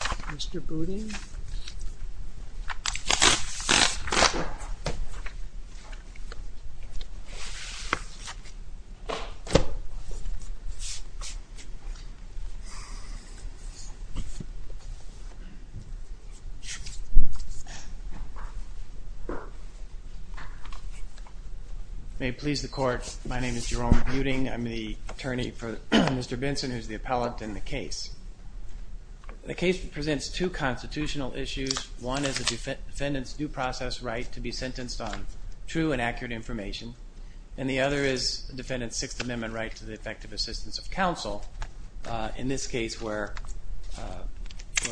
Jerome Buding, Attorney for Mr. Benson May it please the Court, my name is Jerome Buding. I'm the attorney for Mr. Benson who is the appellate in the case. The case presents two constitutional issues. One is the defendant's due process right to be sentenced on true and accurate information. And the other is the defendant's Sixth Amendment right to the effective assistance of counsel. In this case where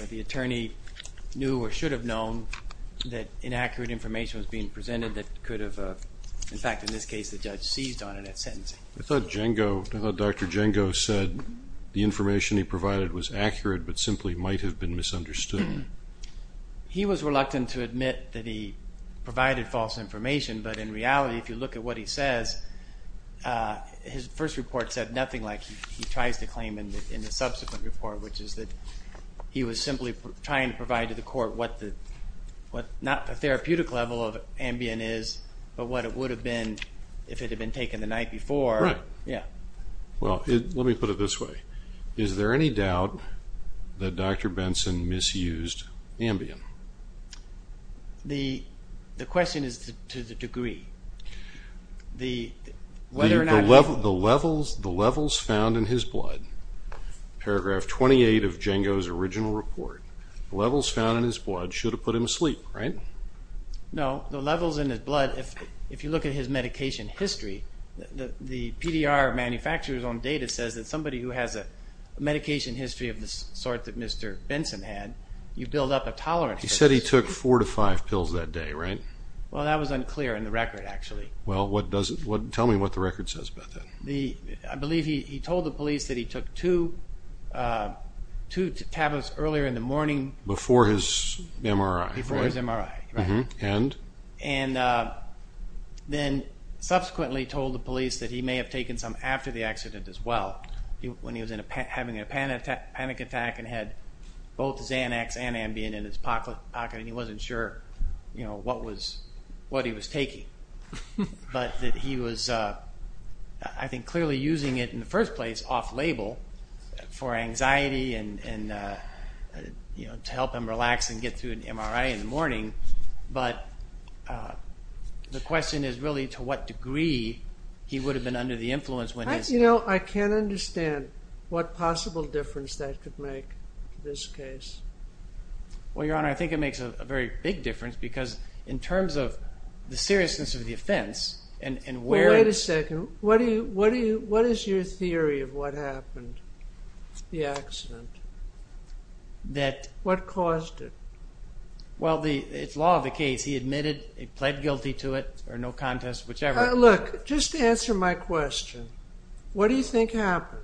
the attorney knew or should have known that inaccurate information was being presented that could have, in fact in this case, the judge seized on it at sentencing. I thought Dr. Django said the information he provided was accurate but simply might have been misunderstood. He was reluctant to admit that he provided false information, but in reality if you look at what he says, his first report said nothing like he tries to claim in the subsequent report, which is that he was simply trying to provide to the Court what not the therapeutic level of Ambien is, but what it would have been if it had been taken the night before. Let me put it this way. Is there any doubt that Dr. Benson misused Ambien? The question is to the degree. The levels found in his blood, paragraph 28 of Django's original report, the levels found in his blood should have put him to sleep, right? No, the levels in his blood, if you look at his medication history, the PDR manufacturer's own data says that somebody who has a medication history of the sort that Mr. Benson had, you build up a tolerance. He said he took four to five pills that day, right? Well, that was unclear in the record, actually. Well, tell me what the record says about that. I believe he told the police that he took two tablets earlier in the morning. Before his MRI, right? Before his MRI, right. And? And then subsequently told the police that he may have taken some after the accident as well, when he was having a panic attack and had both Xanax and Ambien in his pocket, and he wasn't sure what he was taking. But that he was, I think, clearly using it in the first place off-label for anxiety and, you know, to help him relax and get through an MRI in the morning. But the question is really to what degree he would have been under the influence when his... You know, I can't understand what possible difference that could make in this case. Well, Your Honor, I think it makes a very big difference because in terms of the seriousness of the offense and where... Well, wait a second. What do you... What is your theory of what happened? The accident? That... What caused it? Well, the... It's law of the case. He admitted he pled guilty to it or no contest, whichever. Look, just answer my question. What do you think happened?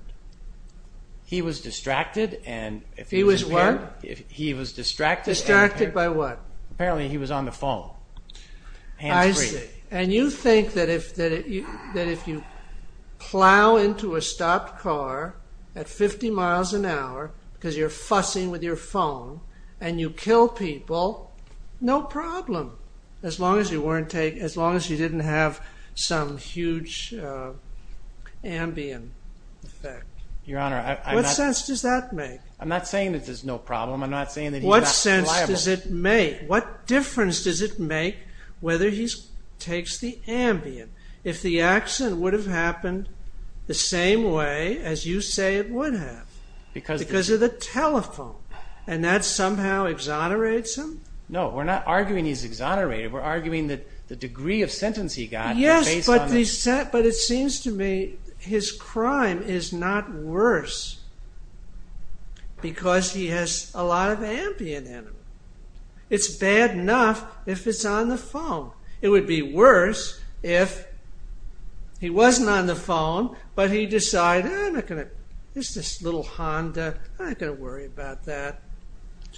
He was distracted and... He was what? He was distracted and... Distracted by what? Apparently, he was on the phone, hands-free. I see. And you think that if you plow into a stopped car at 50 miles an hour because you're fussing with your phone and you kill people, no problem, as long as you weren't taking... as long as you didn't have some huge Ambien effect. Your Honor, I'm not... What sense does that make? I'm not saying that there's no problem. I'm not saying that he's not reliable. What sense does it make? What difference does it make whether he takes the Ambien? If the accident would have happened the same way as you say it would have because of the telephone and that somehow exonerates him? No, we're not arguing he's exonerated. We're arguing that the degree of sentence he got is based on that. But it seems to me his crime is not worse because he has a lot of Ambien in him. It's bad enough if it's on the phone. It would be worse if he wasn't on the phone, but he decided, I'm not going to... It's this little Honda. I'm not going to worry about that.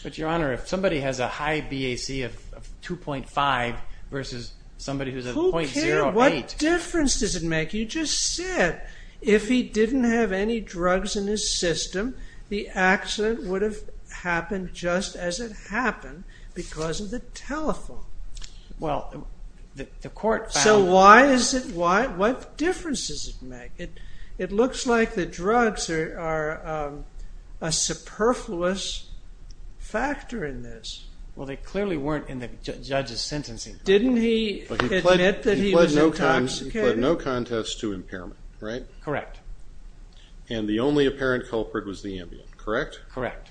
But, Your Honor, if somebody has a high BAC of 2.5 versus somebody who's at 0.08... What difference does it make? You just said if he didn't have any drugs in his system, the accident would have happened just as it happened because of the telephone. Well, the court found... So why is it... what difference does it make? It looks like the drugs are a superfluous factor in this. Well, they clearly weren't in the judge's sentencing. Didn't he admit that he was intoxicated? He pled no contest to impairment, right? Correct. And the only apparent culprit was the Ambien, correct? Correct.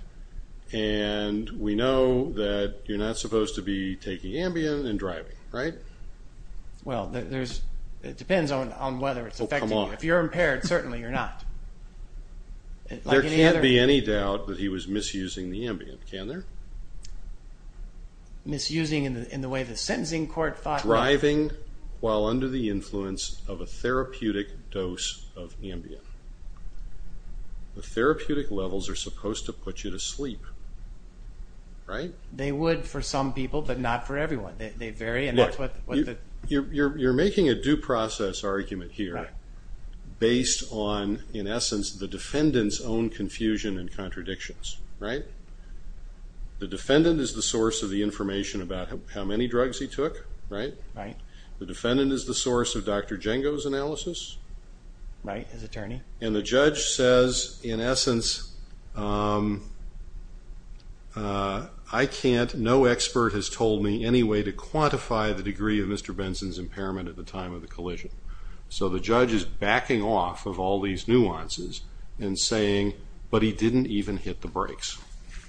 And we know that you're not supposed to be taking Ambien and driving, right? Well, it depends on whether it's affecting you. Oh, come on. If you're impaired, certainly you're not. There can't be any doubt that he was misusing the Ambien, can there? Misusing in the way the sentencing court thought... Driving while under the influence of a therapeutic dose of Ambien. The therapeutic levels are supposed to put you to sleep, right? They would for some people, but not for everyone. They vary and that's what the... You're making a due process argument here based on, in essence, the defendant's own confusion and contradictions, right? The defendant is the source of the information about how many drugs he took, right? Right. The defendant is the source of Dr. Django's analysis. Right, his attorney. And the judge says, in essence, I can't, no expert has told me any way to quantify the degree of Mr. Benson's impairment at the time of the collision. So the judge is backing off of all these nuances and saying, but he didn't even hit the brakes.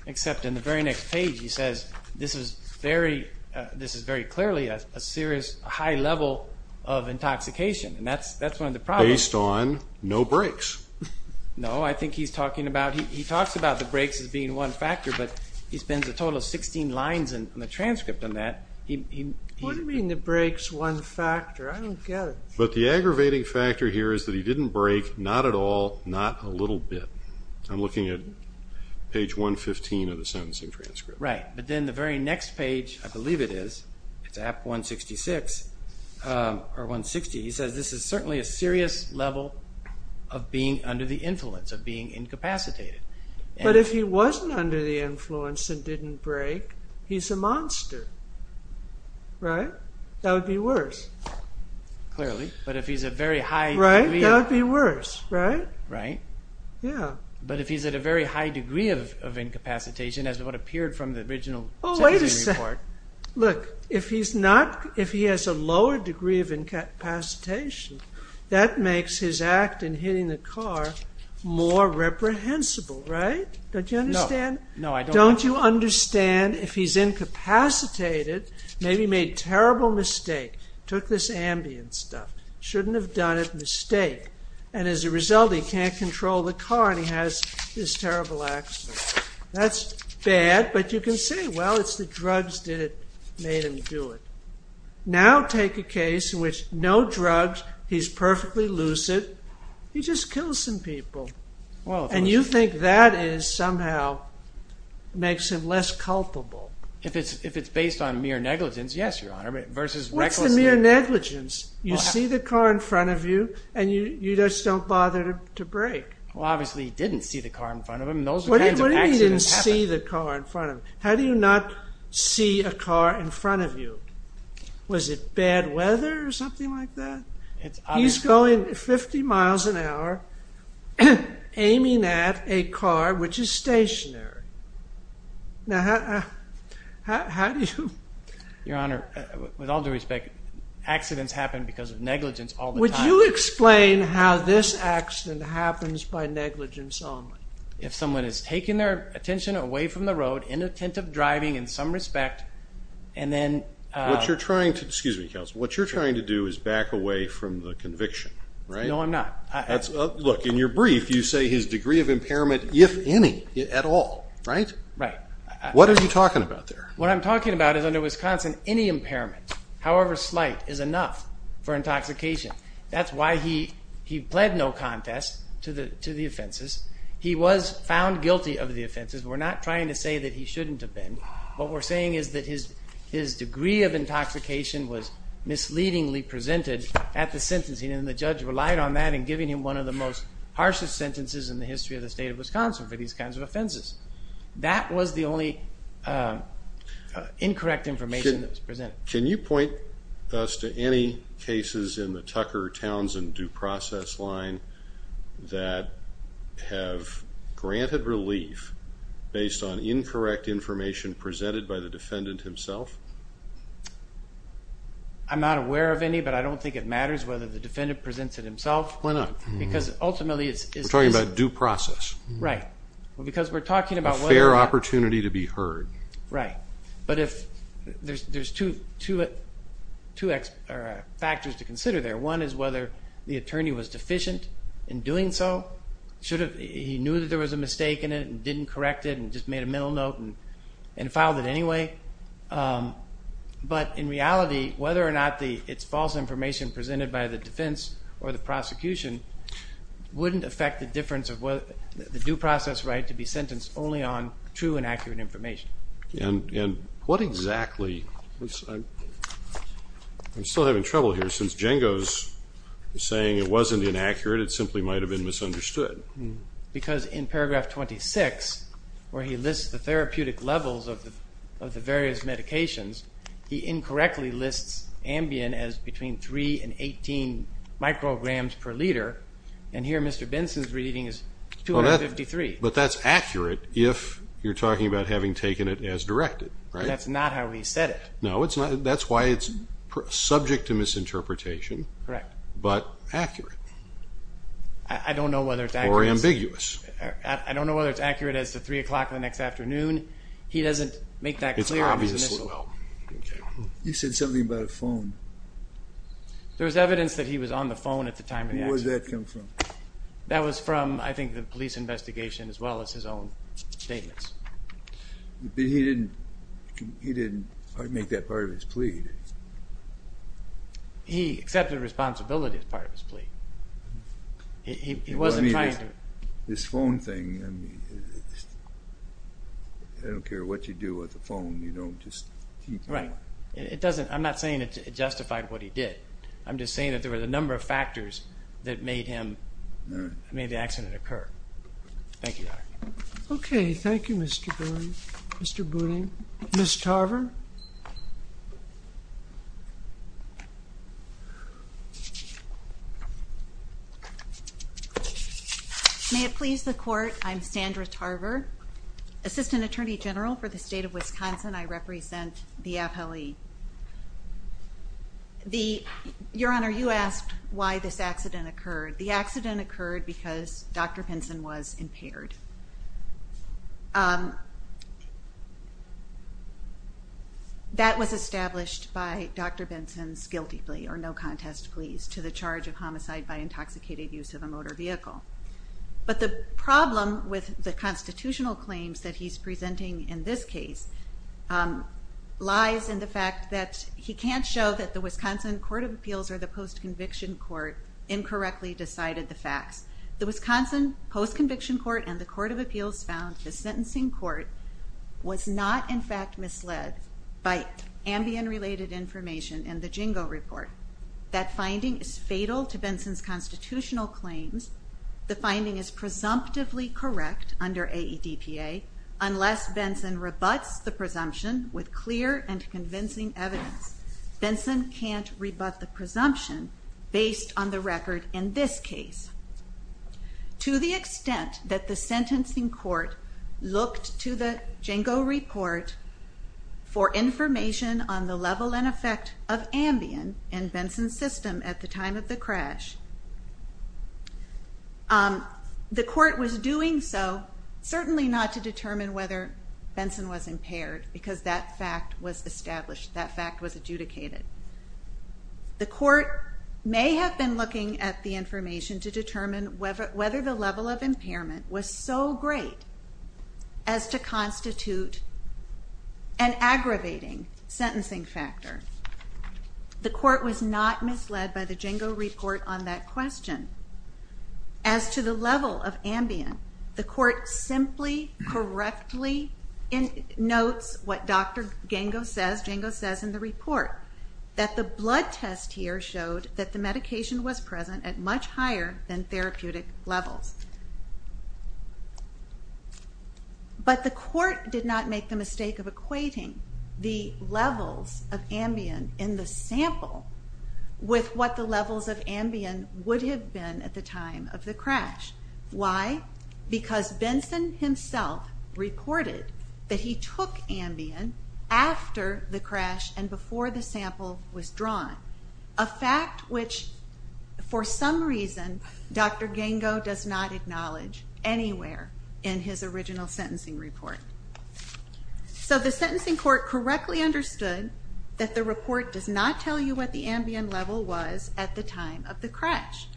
Except in the very next page he says, this is very clearly a serious, high level of intoxication. And that's one of the problems. Based on no brakes. No, I think he's talking about... He talks about the brakes as being one factor, but he spends a total of 16 lines in the transcript on that. What do you mean the brakes one factor? I don't get it. But the aggravating factor here is that he didn't brake, not at all, not a little bit. I'm looking at page 115 of the sentencing transcript. Right, but then the very next page, I believe it is, it's at 166, or 160, he says, this is certainly a serious level of being under the influence, of being incapacitated. But if he wasn't under the influence and didn't brake, he's a monster, right? That would be worse. Clearly, but if he's at a very high degree... Right, that would be worse, right? Right. Yeah. But if he's at a very high degree of incapacitation, as what appeared from the original sentencing report... No, no, I don't... He just kills some people. And you think that somehow makes him less culpable. If it's based on mere negligence, yes, Your Honor, versus recklessness... What's the mere negligence? You see the car in front of you, and you just don't bother to brake. Well, obviously, he didn't see the car in front of him. Those kinds of accidents happen. What do you mean he didn't see the car in front of him? How do you not see a car in front of you? Was it bad weather or something like that? He's going 50 miles an hour, aiming at a car, which is stationary. Now, how do you... Your Honor, with all due respect, accidents happen because of negligence all the time. Would you explain how this accident happens by negligence only? If someone is taking their attention away from the road, inattentive driving, in some respect, and then... What you're trying to do is back away from the conviction, right? No, I'm not. Look, in your brief, you say his degree of impairment, if any, at all, right? Right. What are you talking about there? What I'm talking about is under Wisconsin, any impairment, however slight, is enough for intoxication. That's why he pled no contest to the offenses. He was found guilty of the offenses. We're not trying to say that he shouldn't have been. What we're saying is that his degree of intoxication was misleadingly presented at the sentencing, and the judge relied on that in giving him one of the most harshest sentences in the history of the state of Wisconsin for these kinds of offenses. That was the only incorrect information that was presented. Can you point us to any cases in the Tucker, Towns, and Due Process line that have granted relief based on incorrect information presented by the defendant himself? I'm not aware of any, but I don't think it matters whether the defendant presents it himself. Why not? Because ultimately it's... We're talking about due process. Right. Because we're talking about... A fair opportunity to be heard. Right. But there's two factors to consider there. One is whether the attorney was deficient in doing so. He knew that there was a mistake in it and didn't correct it and just made a middle note and filed it anyway. But in reality, whether or not it's false information presented by the defense or the prosecution, wouldn't affect the difference of the due process right to be sentenced only on true and accurate information. What exactly... I'm still having trouble here since Django's saying it wasn't inaccurate. It simply might have been misunderstood. Because in paragraph 26, where he lists the therapeutic levels of the various medications, he incorrectly lists Ambien as between 3 and 18 micrograms per liter, and here Mr. Benson's reading is 253. But that's accurate if you're talking about having taken it as directed, right? That's not how he said it. No, that's why it's subject to misinterpretation. Correct. But accurate. I don't know whether it's accurate. Or ambiguous. I don't know whether it's accurate as to 3 o'clock the next afternoon. He doesn't make that clear. It's obviously... You said something about a phone. There was evidence that he was on the phone at the time of the accident. Where did that come from? That was from, I think, the police investigation as well as his own statements. But he didn't make that part of his plea. He accepted responsibility as part of his plea. He wasn't trying to... This phone thing, I don't care what you do with the phone, you don't just... Right. I'm not saying it justified what he did. I'm just saying that there were a number of factors that made the accident occur. Thank you, Your Honor. Okay. Thank you, Mr. Boone. Mr. Boone. Ms. Tarver. May it please the Court, I'm Sandra Tarver, Assistant Attorney General for the State of Wisconsin. I represent the appellee. Your Honor, you asked why this accident occurred. The accident occurred because Dr. Benson was impaired. That was established by Dr. Benson's guilty plea or no contest plea to the charge of homicide by intoxicated use of a motor vehicle. But the problem with the constitutional claims that he's presenting in this case lies in the fact that he can't show that the Wisconsin Court of Appeals or the Post-Conviction Court incorrectly decided the facts. The Wisconsin Post-Conviction Court and the Court of Appeals found the sentencing court was not, in fact, misled by Ambien-related information in the Jingo Report. That finding is fatal to Benson's constitutional claims. The finding is presumptively correct under AEDPA unless Benson rebuts the presumption with clear and convincing evidence. Benson can't rebut the presumption based on the record in this case. To the extent that the sentencing court looked to the Jingo Report for information on the level and effect of Ambien and Benson's system at the time of the crash, the court was doing so certainly not to determine whether Benson was impaired because that fact was established, that fact was adjudicated. The court may have been looking at the information to determine whether the level of impairment was so great as to constitute an aggravating sentencing factor. The court was not misled by the Jingo Report on that question. As to the level of Ambien, the court simply correctly notes what Dr. Jingo says in the report, that the blood test here showed that the medication was present at much higher than therapeutic levels. But the court did not make the mistake of equating the levels of Ambien in the sample with what the levels of Ambien would have been at the time of the crash. Why? Because Benson himself reported that he took Ambien after the crash and before the sample was drawn. A fact which, for some reason, Dr. Jingo does not acknowledge anywhere in his original sentencing report. So the sentencing court correctly understood that the report does not tell you what the Ambien level was at the time of the crash.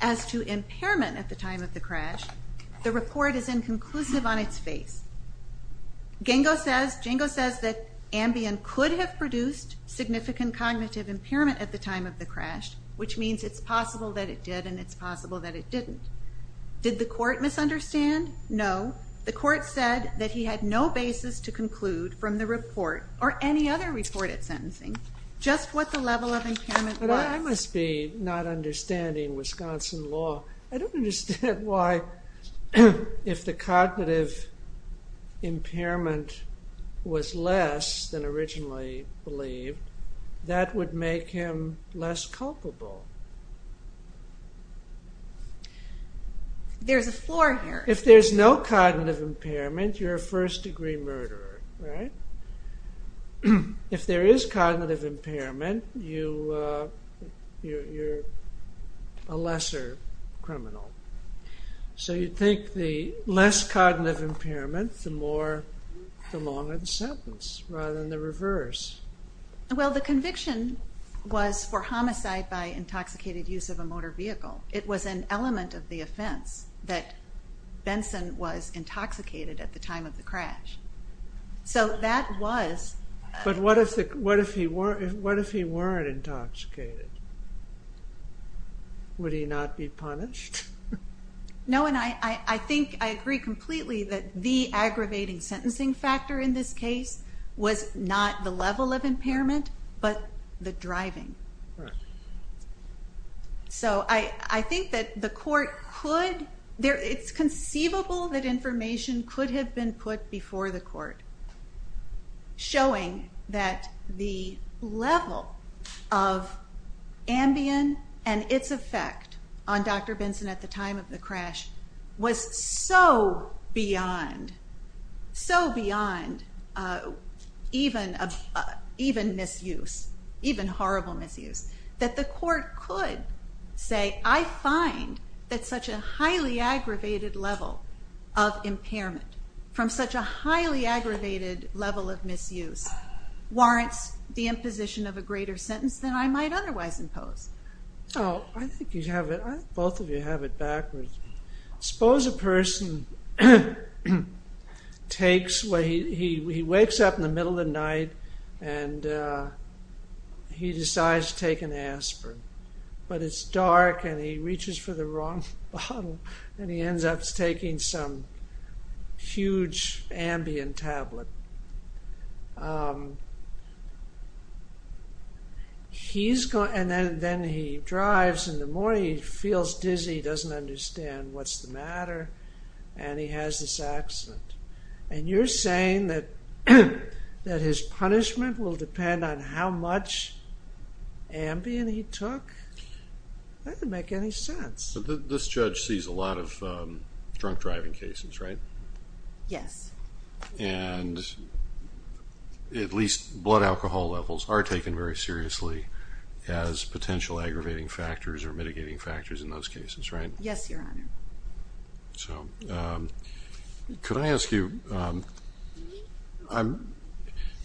As to impairment at the time of the crash, the report is inconclusive on its face. Jingo says that Ambien could have produced significant cognitive impairment at the time of the crash, which means it's possible that it did and it's possible that it didn't. Did the court misunderstand? No. The court said that he had no basis to conclude from the report or any other reported sentencing just what the level of impairment was. But I must be not understanding Wisconsin law. I don't understand why if the cognitive impairment was less than originally believed, that would make him less culpable. There's a floor here. If there's no cognitive impairment, you're a first-degree murderer, right? If there is cognitive impairment, you're a lesser criminal. So you think the less cognitive impairment, the longer the sentence rather than the reverse. Well, the conviction was for homicide by intoxicated use of a motor vehicle. It was an element of the offense that Benson was intoxicated at the time of the crash. So that was... But what if he weren't intoxicated? Would he not be punished? No, and I think I agree completely that the aggravating sentencing factor in this case was not the level of impairment but the driving. So I think that the court could... It's conceivable that information could have been put before the court showing that the level of Ambien and its effect on Dr. Benson at the time of the crash was so beyond, so beyond even misuse, even horrible misuse, that the court could say, I find that such a highly aggravated level of impairment from such a highly aggravated level of misuse warrants the imposition of a greater sentence than I might otherwise impose. Oh, I think you have it... I think both of you have it backwards. Suppose a person takes... He wakes up in the middle of the night and he decides to take an aspirin. But it's dark and he reaches for the wrong bottle and he ends up taking some huge Ambien tablet. He's gone and then he drives and the more he feels dizzy, he doesn't understand what's the matter and he has this accident. And you're saying that his punishment will depend on how much Ambien he took? That doesn't make any sense. But this judge sees a lot of drunk driving cases, right? Yes. And at least blood alcohol levels are taken very seriously as potential aggravating factors or mitigating factors in those cases, right? Yes, Your Honor. So, could I ask you...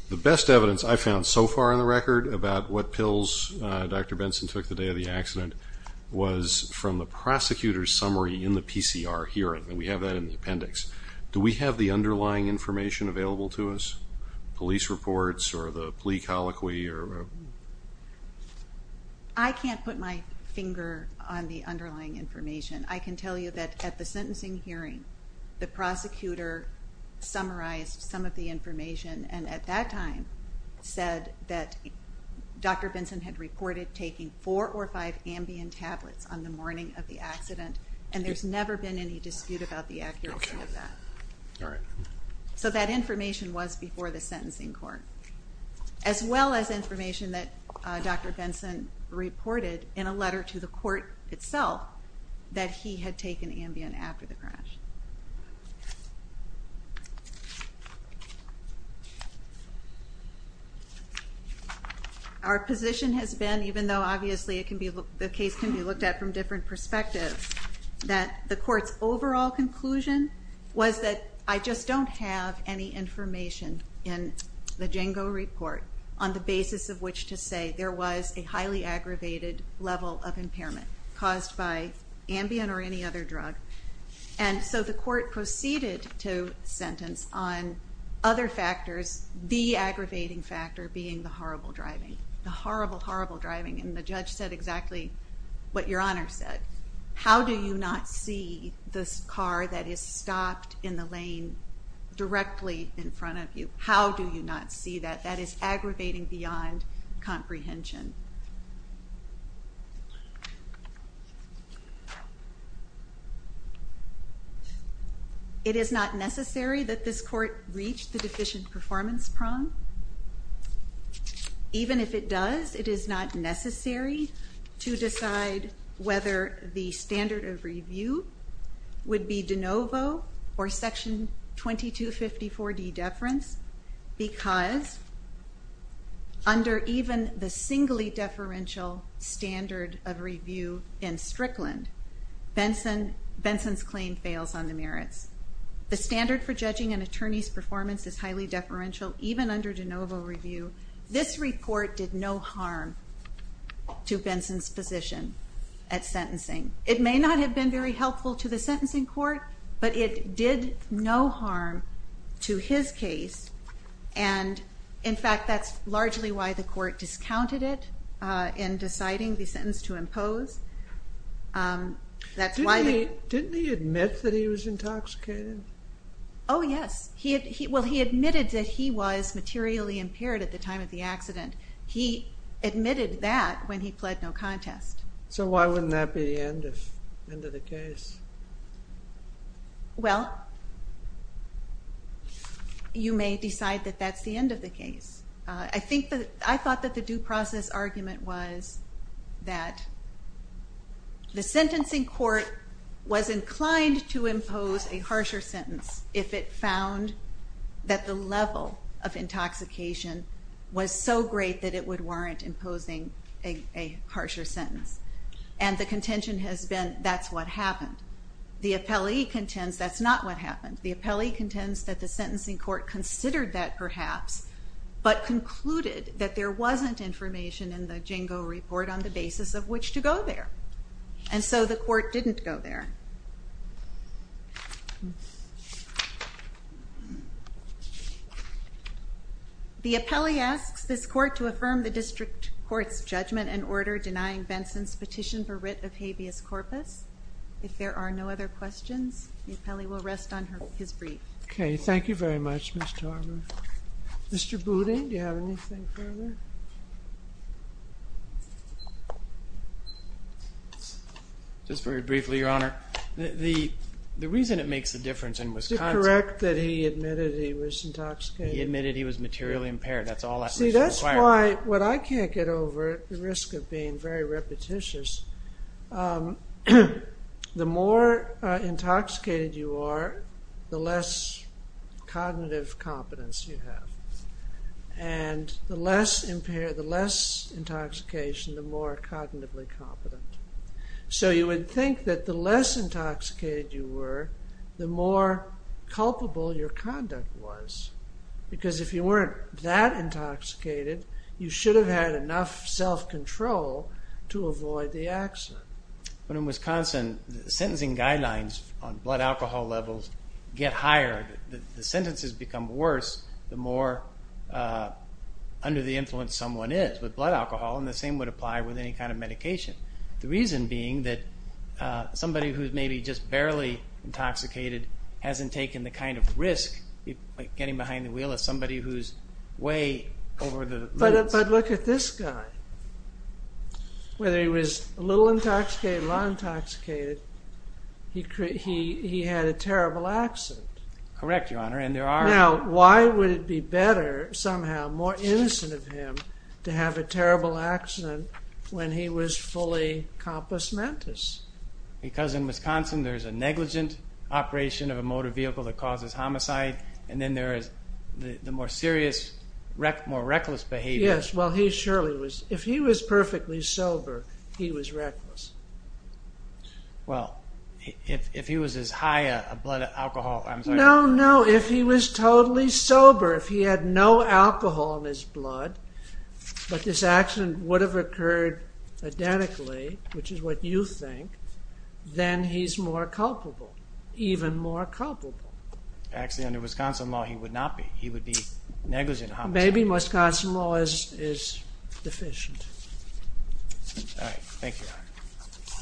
The best evidence I found so far in the record about what pills Dr. Benson took the day of the accident was from the prosecutor's summary in the PCR hearing. And we have that in the appendix. Do we have the underlying information available to us? Police reports or the plea colloquy or... I can't put my finger on the underlying information. I can tell you that at the sentencing hearing, the prosecutor summarized some of the information and at that time said that Dr. Benson had reported taking four or five Ambien tablets on the morning of the accident and there's never been any dispute about the accuracy of that. All right. So that information was before the sentencing court. As well as information that Dr. Benson reported in a letter to the court itself that he had taken Ambien after the crash. Our position has been, even though obviously the case can be looked at from different perspectives, that the court's overall conclusion was that I just don't have any information in the Django report on the basis of which to say there was a highly aggravated level of impairment caused by Ambien or any other drug. And so the court proceeded to sentence on other factors, the aggravating factor being the horrible driving. The horrible, horrible driving. And the judge said exactly what Your Honor said. How do you not see this car that is stopped in the lane directly in front of you? How do you not see that? That is aggravating beyond comprehension. It is not necessary that this court reach the deficient performance prong. Even if it does, it is not necessary to decide whether the standard of review would be de novo or Section 2254D deference in Strickland. Benson's claim fails on the merits. The standard for judging an attorney's performance is highly deferential, even under de novo review. This report did no harm to Benson's position at sentencing. It may not have been very helpful to the sentencing court, but it did no harm to his case. And in fact, that's largely why the court discounted it in deciding the sentence to impose. Didn't he admit that he was intoxicated? Oh, yes. Well, he admitted that he was materially impaired at the time of the accident. He admitted that when he pled no contest. So why wouldn't that be the end of the case? Well, you may decide that that's the end of the case. I thought that the due process argument was that the sentencing court was inclined to impose a harsher sentence if it found that the level of intoxication was so great that it would warrant imposing a harsher sentence. And the contention has been that's what happened. The appellee contends that's not what happened. The appellee contends that the sentencing court considered that perhaps, but concluded that there wasn't information in the Jingo report on the basis of which to go there. And so the court didn't go there. The appellee asks this court to affirm the district court's judgment and order denying Benson's petition for writ of habeas corpus. If there are no other questions, the appellee will rest on his brief. OK, thank you very much, Ms. Tarver. Mr. Booting, do you have anything further? Just very briefly, Your Honor. The reason it makes a difference in Wisconsin. Is it correct that he admitted he was intoxicated? He admitted he was materially impaired. That's all that's required. See, that's why what I can't get over, at the risk of being very repetitious, is the more intoxicated you are, the less cognitive competence you have. And the less intoxication, the more cognitively competent. So you would think that the less intoxicated you were, the more culpable your conduct was. Because if you weren't that intoxicated, you should have had enough self-control to avoid the accident. But in Wisconsin, the sentencing guidelines on blood alcohol levels get higher. The sentences become worse the more under the influence someone is with blood alcohol. And the same would apply with any kind of medication. The reason being that somebody who's maybe just barely intoxicated hasn't taken the kind of risk of getting behind the wheel of somebody who's way over the limit. But look at this guy. Whether he was a little intoxicated or not intoxicated, he had a terrible accident. Correct, Your Honor. Now, why would it be better somehow, more innocent of him, to have a terrible accident when he was fully compus mentis? Because in Wisconsin, there's a negligent operation of a motor vehicle that causes homicide. And then there is the more serious, more reckless behavior. Yes, well, he surely was. If he was perfectly sober, he was reckless. Well, if he was as high a blood alcohol, I'm sorry. No, no. If he was totally sober, if he had no alcohol in his blood, but this accident would have occurred identically, which is what you think, then he's more culpable, even more culpable. Actually, under Wisconsin law, he would not be. He would be negligent of homicide. Maybe Wisconsin law is deficient. All right. Thank you, Your Honor.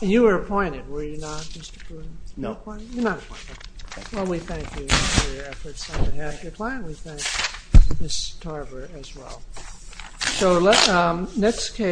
And you were appointed, were you not, Mr. Pruden? No. You were not appointed. Well, we thank you for your efforts on behalf of your client. We thank Ms. Tarver as well. So next case.